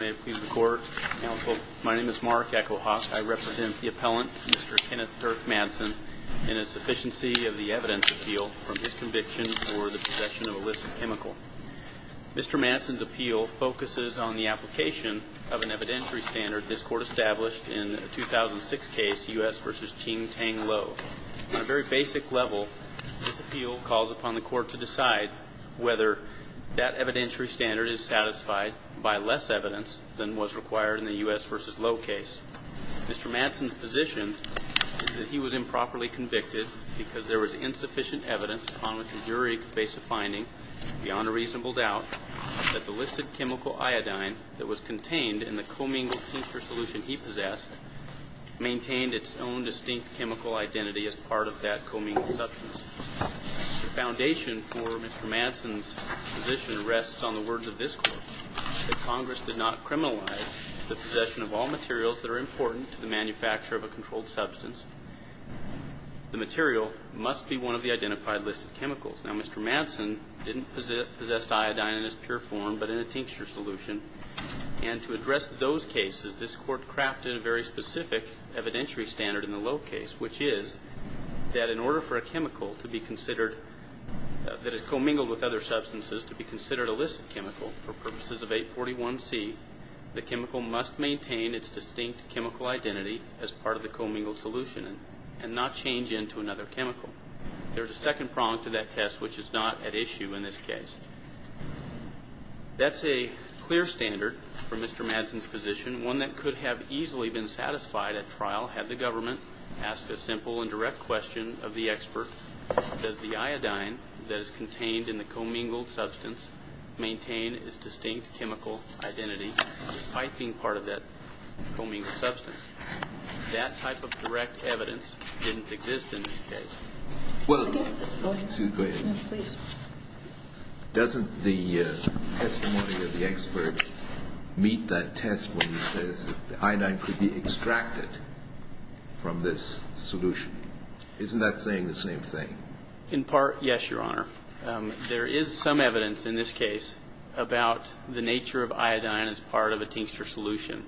May it please the court. Counsel, my name is Mark Echohawk. I represent the appellant, Mr. Kenneth Dirk Madsen, in a sufficiency of the evidence appeal from his conviction for the possession of illicit chemical. Mr. Madsen's appeal focuses on the application of an evidentiary standard this court established in a 2006 case, U.S. v. Ching Tang Lo. On a very basic level, this appeal calls upon the court to decide whether that evidentiary standard is satisfied by less evidence than was required in the U.S. v. Lo case. Mr. Madsen's position is that he was improperly convicted because there was insufficient evidence upon which a jury could base a finding beyond a reasonable doubt that the listed chemical iodine that was contained in the commingled tincture solution he possessed maintained its own distinct chemical identity as part of that commingled substance. The foundation for Mr. Madsen's position rests on the fact that this court, that Congress did not criminalize the possession of all materials that are important to the manufacture of a controlled substance. The material must be one of the identified listed chemicals. Now, Mr. Madsen didn't possess iodine in his pure form but in a tincture solution, and to address those cases, this court crafted a very specific evidentiary standard in the Lo case, which is that in order for a chemical to be considered, that is commingled with other chemicals for purposes of 841C, the chemical must maintain its distinct chemical identity as part of the commingled solution and not change into another chemical. There's a second prong to that test which is not at issue in this case. That's a clear standard for Mr. Madsen's position, one that could have easily been satisfied at trial had the government asked a simple and direct question of the expert, does the iodine that is contained in the commingled substance maintain its distinct chemical identity despite being part of that commingled substance? That type of direct evidence didn't exist in this case. Well, I guess that, go ahead. Excuse me, go ahead. No, please. Doesn't the testimony of the expert meet that test when he says the iodine could be extracted from this solution? Isn't that saying the same thing? In part, yes, Your Honor. There is some evidence in this case about the nature of iodine as part of a tincture solution.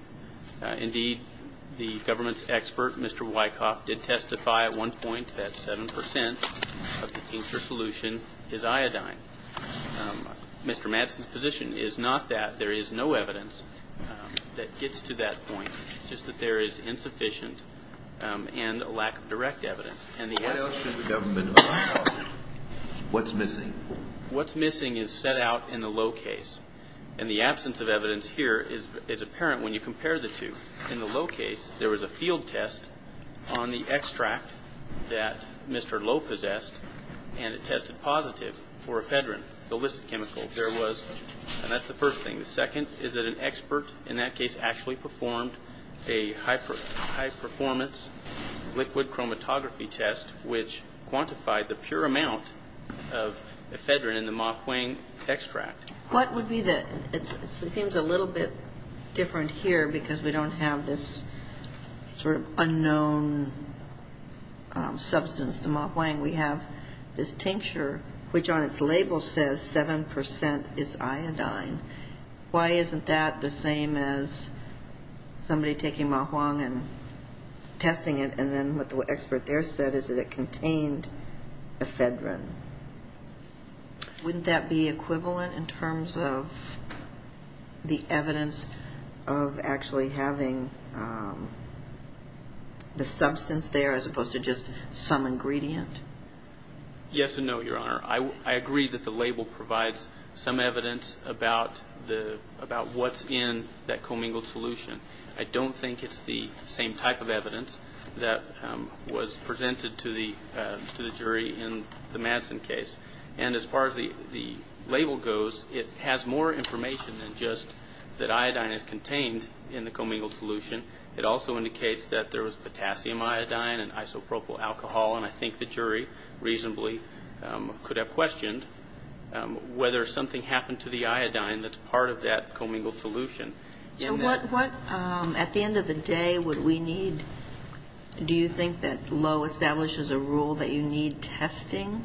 Indeed, the government's expert, Mr. Wyckoff, did testify at one point that 7% of the tincture solution is iodine. Mr. Madsen's position is not that. There is no evidence that gets to that point. It's just that there is insufficient and a lack of direct evidence. Why else should the government allow iodine? What's missing? What's missing is set out in the low case, and the absence of evidence here is apparent when you compare the two. In the low case, there was a field test on the extract that Mr. Lowe possessed, and it tested positive for ephedrine, the illicit chemical. There was, and that's the first thing. The second is that an expert in that case actually performed a high-performance liquid chromatography test, which quantified the pure amount of ephedrine in the Ma Huang extract. What would be the, it seems a little bit different here because we don't have this sort of unknown substance, the Ma Huang. We have this tincture, which on its label says 7% is iodine. Why isn't that the same as somebody taking Ma Huang and testing it, and then what the expert there said is that it contained ephedrine? Wouldn't that be equivalent in terms of the evidence of actually having the substance there as opposed to just some ingredient? Yes and no, Your Honor. I agree that the label provides some evidence about what's in that commingled solution. I don't think it's the same type of evidence that was presented to the jury in the Madsen case. And as far as the label goes, it has more information than just that iodine is contained in the commingled solution. It also indicates that there was potassium iodine and isopropyl alcohol, and I think the jury reasonably could have questioned whether something happened to the iodine that's part of that commingled solution. So what, at the end of the day, would we need? Do you think that Lowe establishes a rule that you need testing?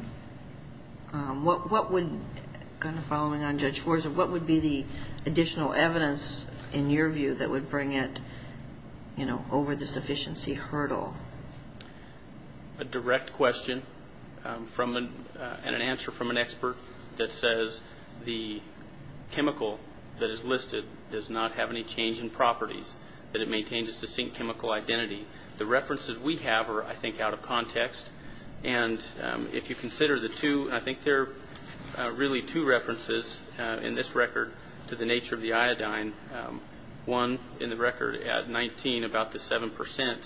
What would, kind of following on Judge Forza, what would be the additional evidence in your view that would bring it over the sufficiency hurdle? A direct question and an answer from an expert that says the chemical that is listed does not have any change in properties, that it maintains its distinct chemical identity. The references we have are, I think, out of context, and if you consider the two, I think there are really two references in this record to the nature of the iodine. One in the record at 19 about the 7%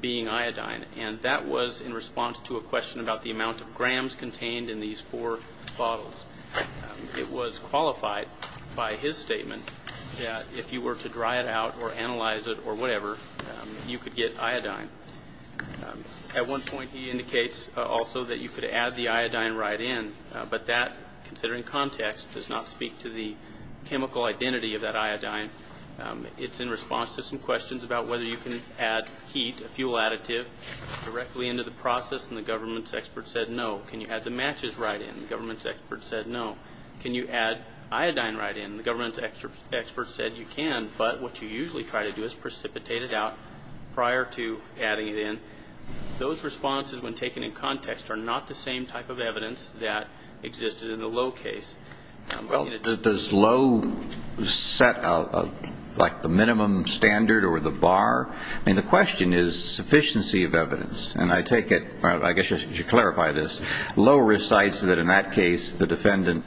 being iodine, and that was in response to a question about the amount of grams contained in these four bottles. It was qualified by his statement that if you were to dry it out or analyze it or whatever, you could get iodine. At one point, he indicates also that you could add the iodine right in, but that, considering context, does not speak to the chemical identity of that iodine. It's in response to some questions about whether you can add heat, a fuel additive, directly into the process, and the government's expert said no. Can you add the matches right in? The government's expert said no. Can you add iodine right in? The government's expert said you can, but what you usually try to do is precipitate it out prior to adding it in. Those responses, when taken in context, are not the same type of evidence that existed in the Lowe case. Does Lowe set, like, the minimum standard or the bar? I mean, the question is sufficiency of evidence, and I take it, or I guess I should clarify this. Lowe recites that in that case, the defendant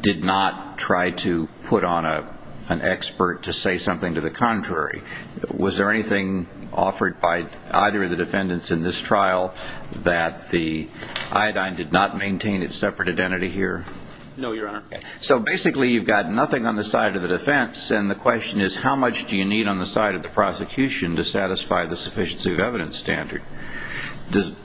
did not try to put on an expert to say something to the contrary. Was there anything offered by either of the defendants in this trial that the iodine did not maintain its separate identity here? No, Your Honor. So basically, you've got nothing on the side of the defense, and the question is, how much do you need on the side of the prosecution to satisfy the sufficiency of evidence standard? And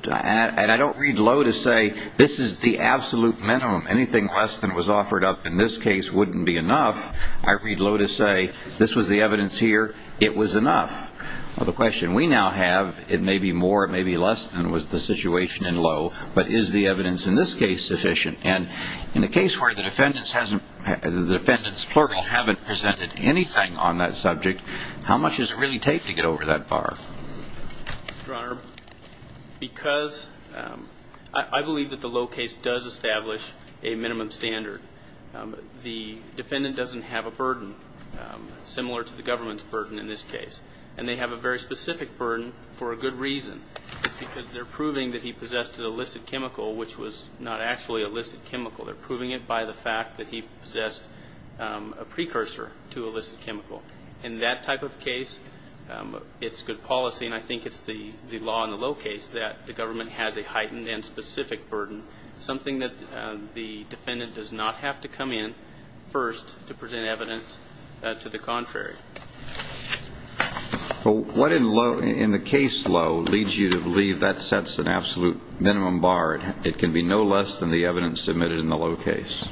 I don't read Lowe to say, this is the absolute minimum. Anything less than was offered up in this case wouldn't be enough. I read Lowe to say, this was the evidence here. It was enough. Well, the question we now have, it may be more, it may be less than was the situation in Lowe, but is the evidence in this case sufficient? And in a case where the defendant's plural haven't presented anything on that subject, how much does it really take to get over that bar? Your Honor, because I believe that the Lowe case does establish a minimum standard. The defendant doesn't have a burden similar to the government's burden in this case, and they have a very specific burden for a good reason. Because they're proving that he possessed an illicit chemical which was not actually illicit chemical. They're proving it by the fact that he possessed a precursor to illicit chemical. In that type of case, it's good policy, and I think it's the law in the Lowe case, that the government has a heightened and specific burden, something that the defendant does not have to come in first to present evidence to the contrary. So what in the case Lowe leads you to believe that sets an absolute minimum bar? It can be no less than the evidence submitted in the Lowe case?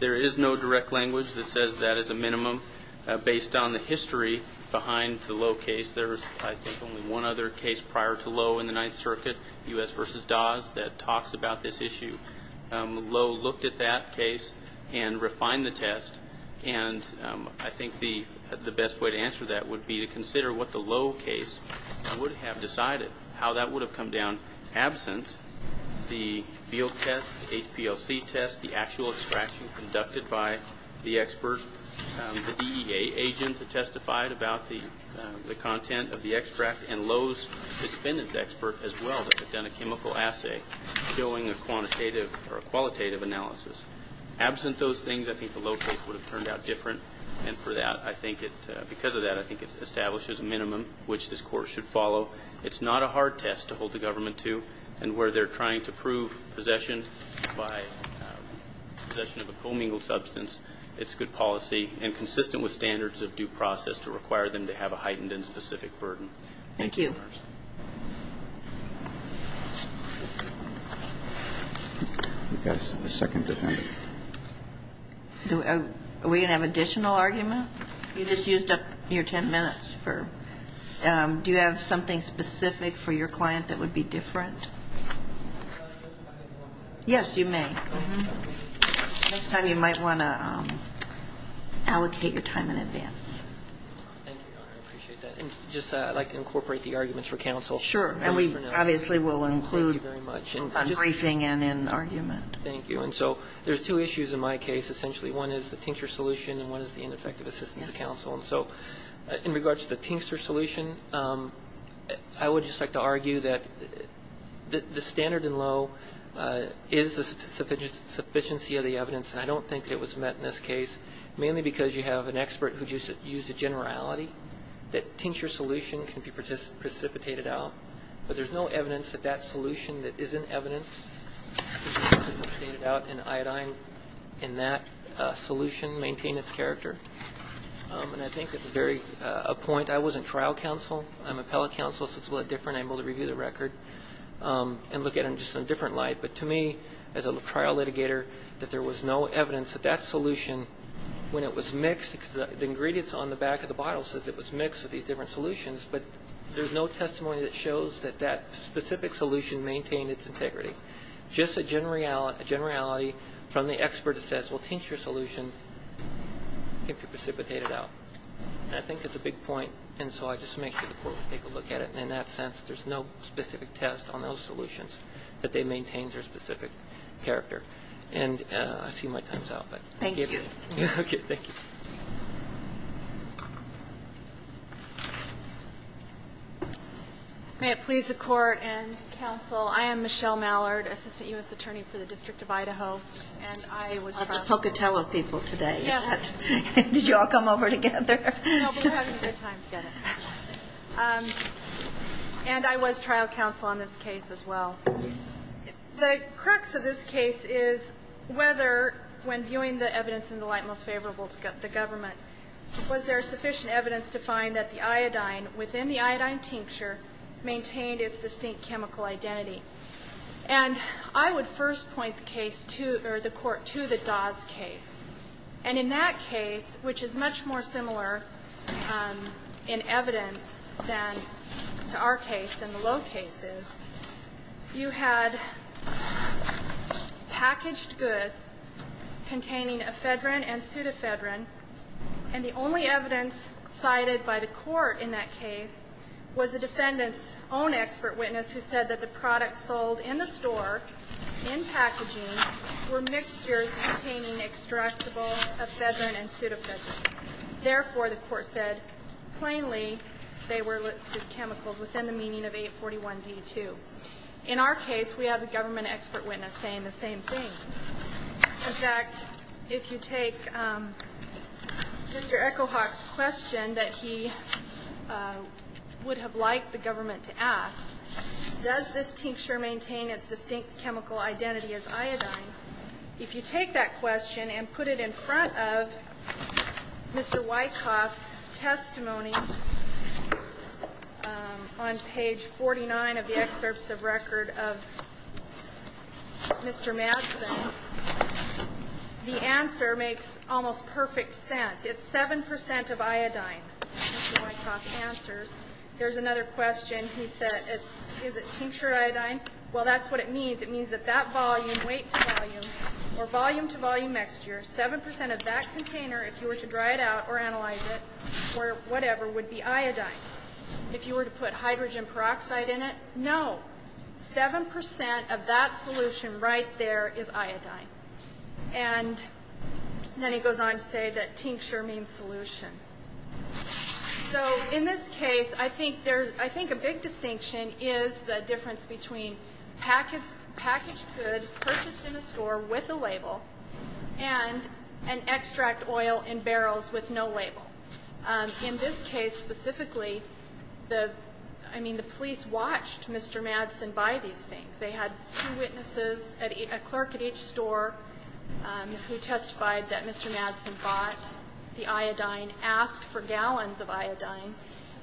There is no direct language that says that is a minimum. Based on the history behind the Lowe case, there's I think only one other case prior to Lowe in the Ninth Circuit, U.S. versus Dawes, that talks about this issue. Lowe looked at that case and refined the test, and I think the best way to answer that would be to consider what the Lowe case would have decided. How that would have come down absent the field test, HPLC test, the actual extraction conducted by the expert, the DEA agent that testified about the content of the extract and Lowe's expert as well that had done a chemical assay doing a quantitative or a qualitative analysis. Absent those things, I think the Lowe case would have turned out different, and for that I think it, because of that, I think it establishes a minimum which this Court should follow. It's not a hard test to hold the government to, and where they're trying to prove possession by possession of a commingled substance, it's good policy and consistent with standards of due process to require them to have a heightened and specific burden. Thank you. We've got a second defendant. Are we going to have an additional argument? You just used up your 10 minutes. Do you have something specific for your client that would be different? Yes, you may. Next time you might want to allocate your time in advance. Thank you, Your Honor. I appreciate that. Just I'd like to incorporate the arguments for counsel. And we obviously will include a briefing and an argument. Thank you. And so there's two issues in my case, essentially. One is the tincture solution, and one is the ineffective assistance of counsel. And so in regards to the tincture solution, I would just like to argue that the standard in Lowe is a sufficiency of the evidence, and I don't think it was met in this case, mainly because you have an expert who used a generality that tincture solution can be precipitated out. But there's no evidence that that solution that isn't evidenced to be precipitated out in iodine in that solution maintained its character. And I think that's a point. I wasn't trial counsel. I'm appellate counsel, so it's a little different. I'm able to review the record and look at it just in a different light. But to me, as a trial litigator, that there was no evidence that that solution, when it was mixed, because the ingredients on the back of the bottle says it was mixed with these different solutions, but there's no testimony that shows that that specific solution maintained its integrity. Just a generality from the expert that says, well, tincture solution can be precipitated out. And I think it's a big point, and so I just make sure the court will take a look at it. And in that sense, there's no specific test on those solutions that they maintained their specific character. And I see my time's up, but thank you. OK, thank you. May it please the court and counsel, I am Michelle Mallard, Assistant U.S. Attorney for the District of Idaho. And I was trial counsel. Lots of Pocatello people today. Did you all come over together? No, but we're having a good time together. And I was trial counsel on this case as well. The crux of this case is whether, when viewing the evidence in the light most favorable to the government, was there sufficient evidence to find that the iodine within the iodine tincture maintained its distinct chemical identity. And I would first point the court to the Dawes case. And in that case, which is much more similar in evidence than to our case, than the Lowe cases, you had packaged goods containing ephedrine and pseudephedrine. And the only evidence cited by the court in that case was the defendant's own expert witness who said that the products sold in the store, in packaging, were mixtures containing extractable ephedrine and pseudephedrine. Therefore, the court said, plainly, they were listed chemicals within the meaning of 841D2. In our case, we have a government expert witness saying the same thing. In fact, if you take Mr. Echohawk's question that he would have liked the government to ask, does this tincture maintain its distinct chemical identity as iodine? If you take that question and put it in front of Mr. Wyckoff's testimony on page 49 of the excerpts of record of Mr. Madsen, the answer makes almost perfect sense. It's 7% of iodine, Mr. Wyckoff answers. There's another question. He said, is it tinctured iodine? Well, that's what it means. It means that that volume, weight to volume, or volume to volume mixture, 7% of that container, if you were to dry it out or analyze it, or whatever, would be iodine. If you were to put hydrogen peroxide in it, no, 7% of that solution right there is iodine. And then he goes on to say that tincture means solution. So in this case, I think a big distinction is the difference between packaged goods purchased in a store with a label and an extract oil in barrels with no label. In this case specifically, I mean, the police watched Mr. Madsen buy these things. They had two witnesses, a clerk at each store who testified that Mr. Madsen bought the iodine, asked for gallons of iodine.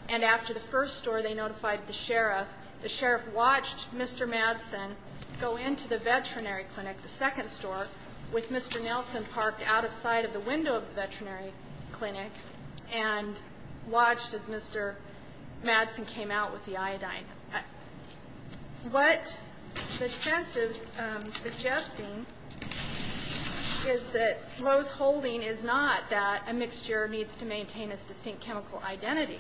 And after the first store, they notified the sheriff. The sheriff watched Mr. Madsen go into the veterinary clinic, the second store, with Mr. Nelson parked out of sight of the window of the veterinary clinic and watched as Mr. Madsen came out with the iodine. What the defense is suggesting is that Lowe's holding is not that a mixture needs to maintain its distinct chemical identity.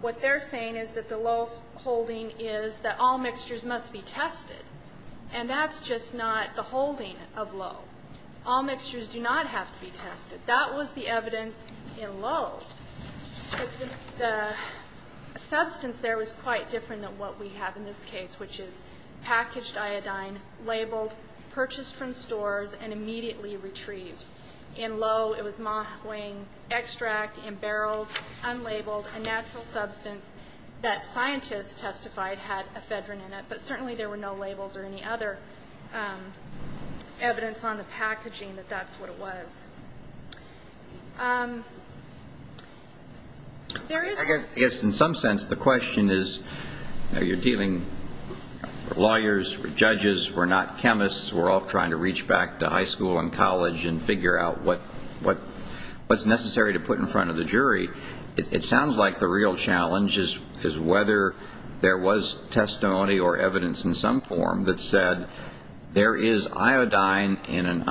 What they're saying is that the Lowe's holding is that all mixtures must be tested. And that's just not the holding of Lowe. All mixtures do not have to be tested. That was the evidence in Lowe. But the substance there was quite different than what we have in this case, which is packaged iodine, labeled, purchased from stores, and immediately retrieved. In Lowe, it was Mah-Huang extract in barrels, unlabeled, a natural substance that scientists testified had ephedrine in it. But certainly there were no labels or any other evidence on the packaging that that's what it was. I guess in some sense, the question is, you're dealing with lawyers, judges, we're not chemists, we're all trying to reach back to high school and college and figure out what's necessary to put in front of the jury. It sounds like the real challenge is whether there was testimony or evidence in some form that said there is iodine in an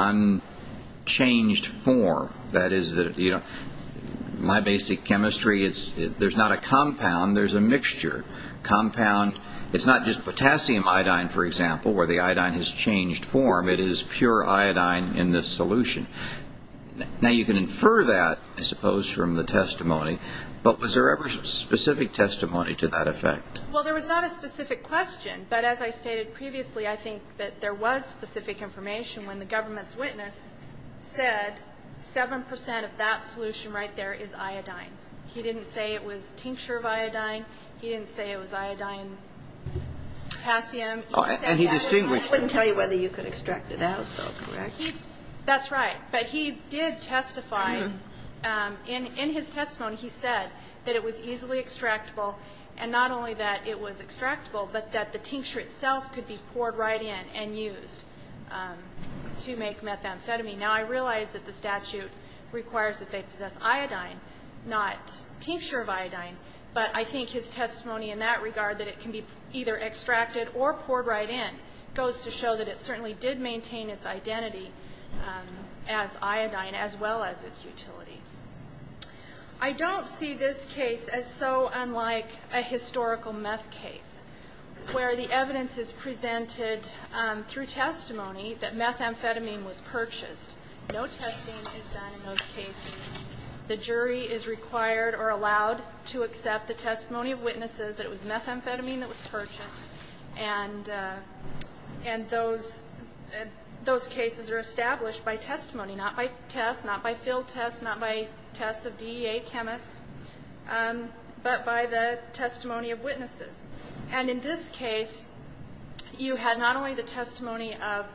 unchanged form. That is, my basic chemistry, there's not a compound, there's a mixture. It's not just potassium iodine, for example, where the iodine has changed form. It is pure iodine in this solution. Now, you can infer that, I suppose, from the testimony. But was there ever specific testimony to that effect? Well, there was not a specific question. But as I stated previously, I think that there was specific information when the government's 7% of that solution right there is iodine. He didn't say it was tincture of iodine. He didn't say it was iodine potassium. Oh, and he distinguished it. I wouldn't tell you whether you could extract it out, though, correct? That's right. But he did testify in his testimony, he said that it was easily extractable. And not only that it was extractable, but that the tincture itself could be poured right in and used to make methamphetamine. Now, I realize that the statute requires that they possess iodine, not tincture of iodine. But I think his testimony in that regard, that it can be either extracted or poured right in, goes to show that it certainly did maintain its identity as iodine, as well as its utility. I don't see this case as so unlike a historical meth case, where the evidence is presented through testimony that methamphetamine was purchased. No testing is done in those cases. The jury is required or allowed to accept the testimony of witnesses that it was methamphetamine that was purchased. And those cases are established by testimony, not by tests, not by field tests, not by tests of DEA chemists, but by the testimony of witnesses. And in this case, you had not only the testimony of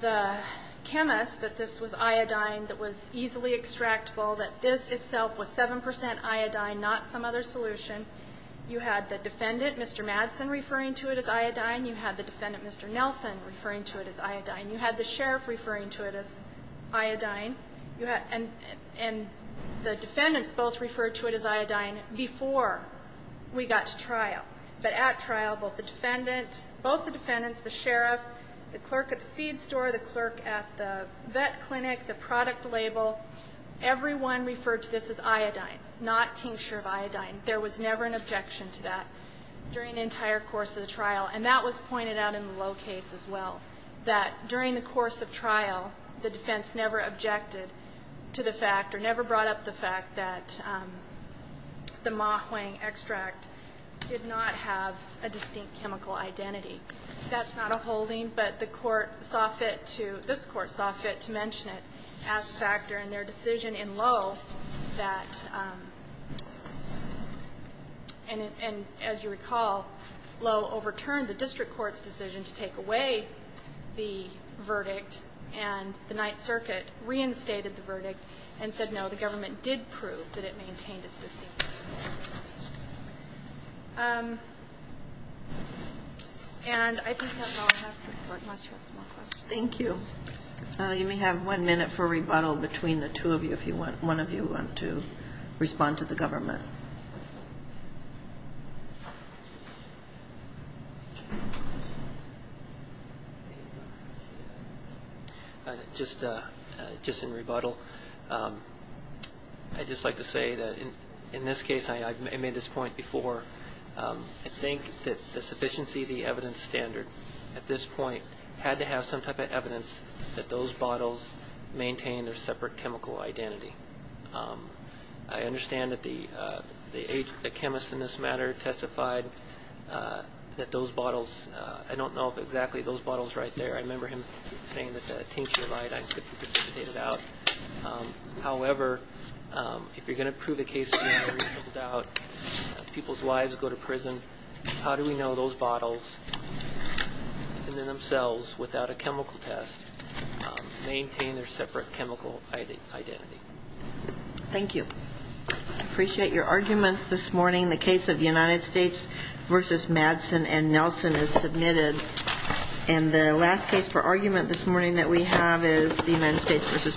the chemist that this was iodine that was easily extractable, that this itself was 7% iodine, not some other solution. You had the defendant, Mr. Madsen, referring to it as iodine. You had the defendant, Mr. Nelson, referring to it as iodine. You had the sheriff referring to it as iodine. And the defendants both referred to it as iodine before we got to trial. But at trial, both the defendant, both the defendants, the sheriff, the clerk at the feed store, the clerk at the vet clinic, the product label, everyone referred to this as iodine, not tincture of iodine. There was never an objection to that during the entire course of the trial. And that was pointed out in the low case as well, that during the course of trial, the defense never objected to the fact or never brought up the fact that the ma huang extract did not have a distinct chemical identity. That's not a holding, but the court saw fit to, this court saw fit to mention it as a factor in their decision in Lowe that, and as you recall, Lowe overturned the district court's decision to take away the verdict, and the Ninth Circuit reinstated the verdict and said, no, the government did prove that it maintained its distinct identity. And I think that's all I have for the court. Unless you have some more questions. Thank you. You may have one minute for rebuttal between the two of you if you want, one of you want to respond to the government. Just in rebuttal, I'd just like to say that in this case, I made this point before, I think that the sufficiency of the evidence standard at this point had to have some type of evidence that those bottles maintained their separate chemical identity. I understand that the chemist in this matter testified that those bottles, I don't know if exactly those bottles right there, I remember him saying that the tincture of iodine could be precipitated out. However, if you're going to prove a case of being reasonable doubt, people's lives go to prison, how do we know those bottles and then themselves without a chemical test maintain their separate chemical identity? Thank you. I appreciate your arguments this morning. The case of the United States versus Madsen and Nelson is submitted. And the last case for argument this morning that we have is the United States versus Brown.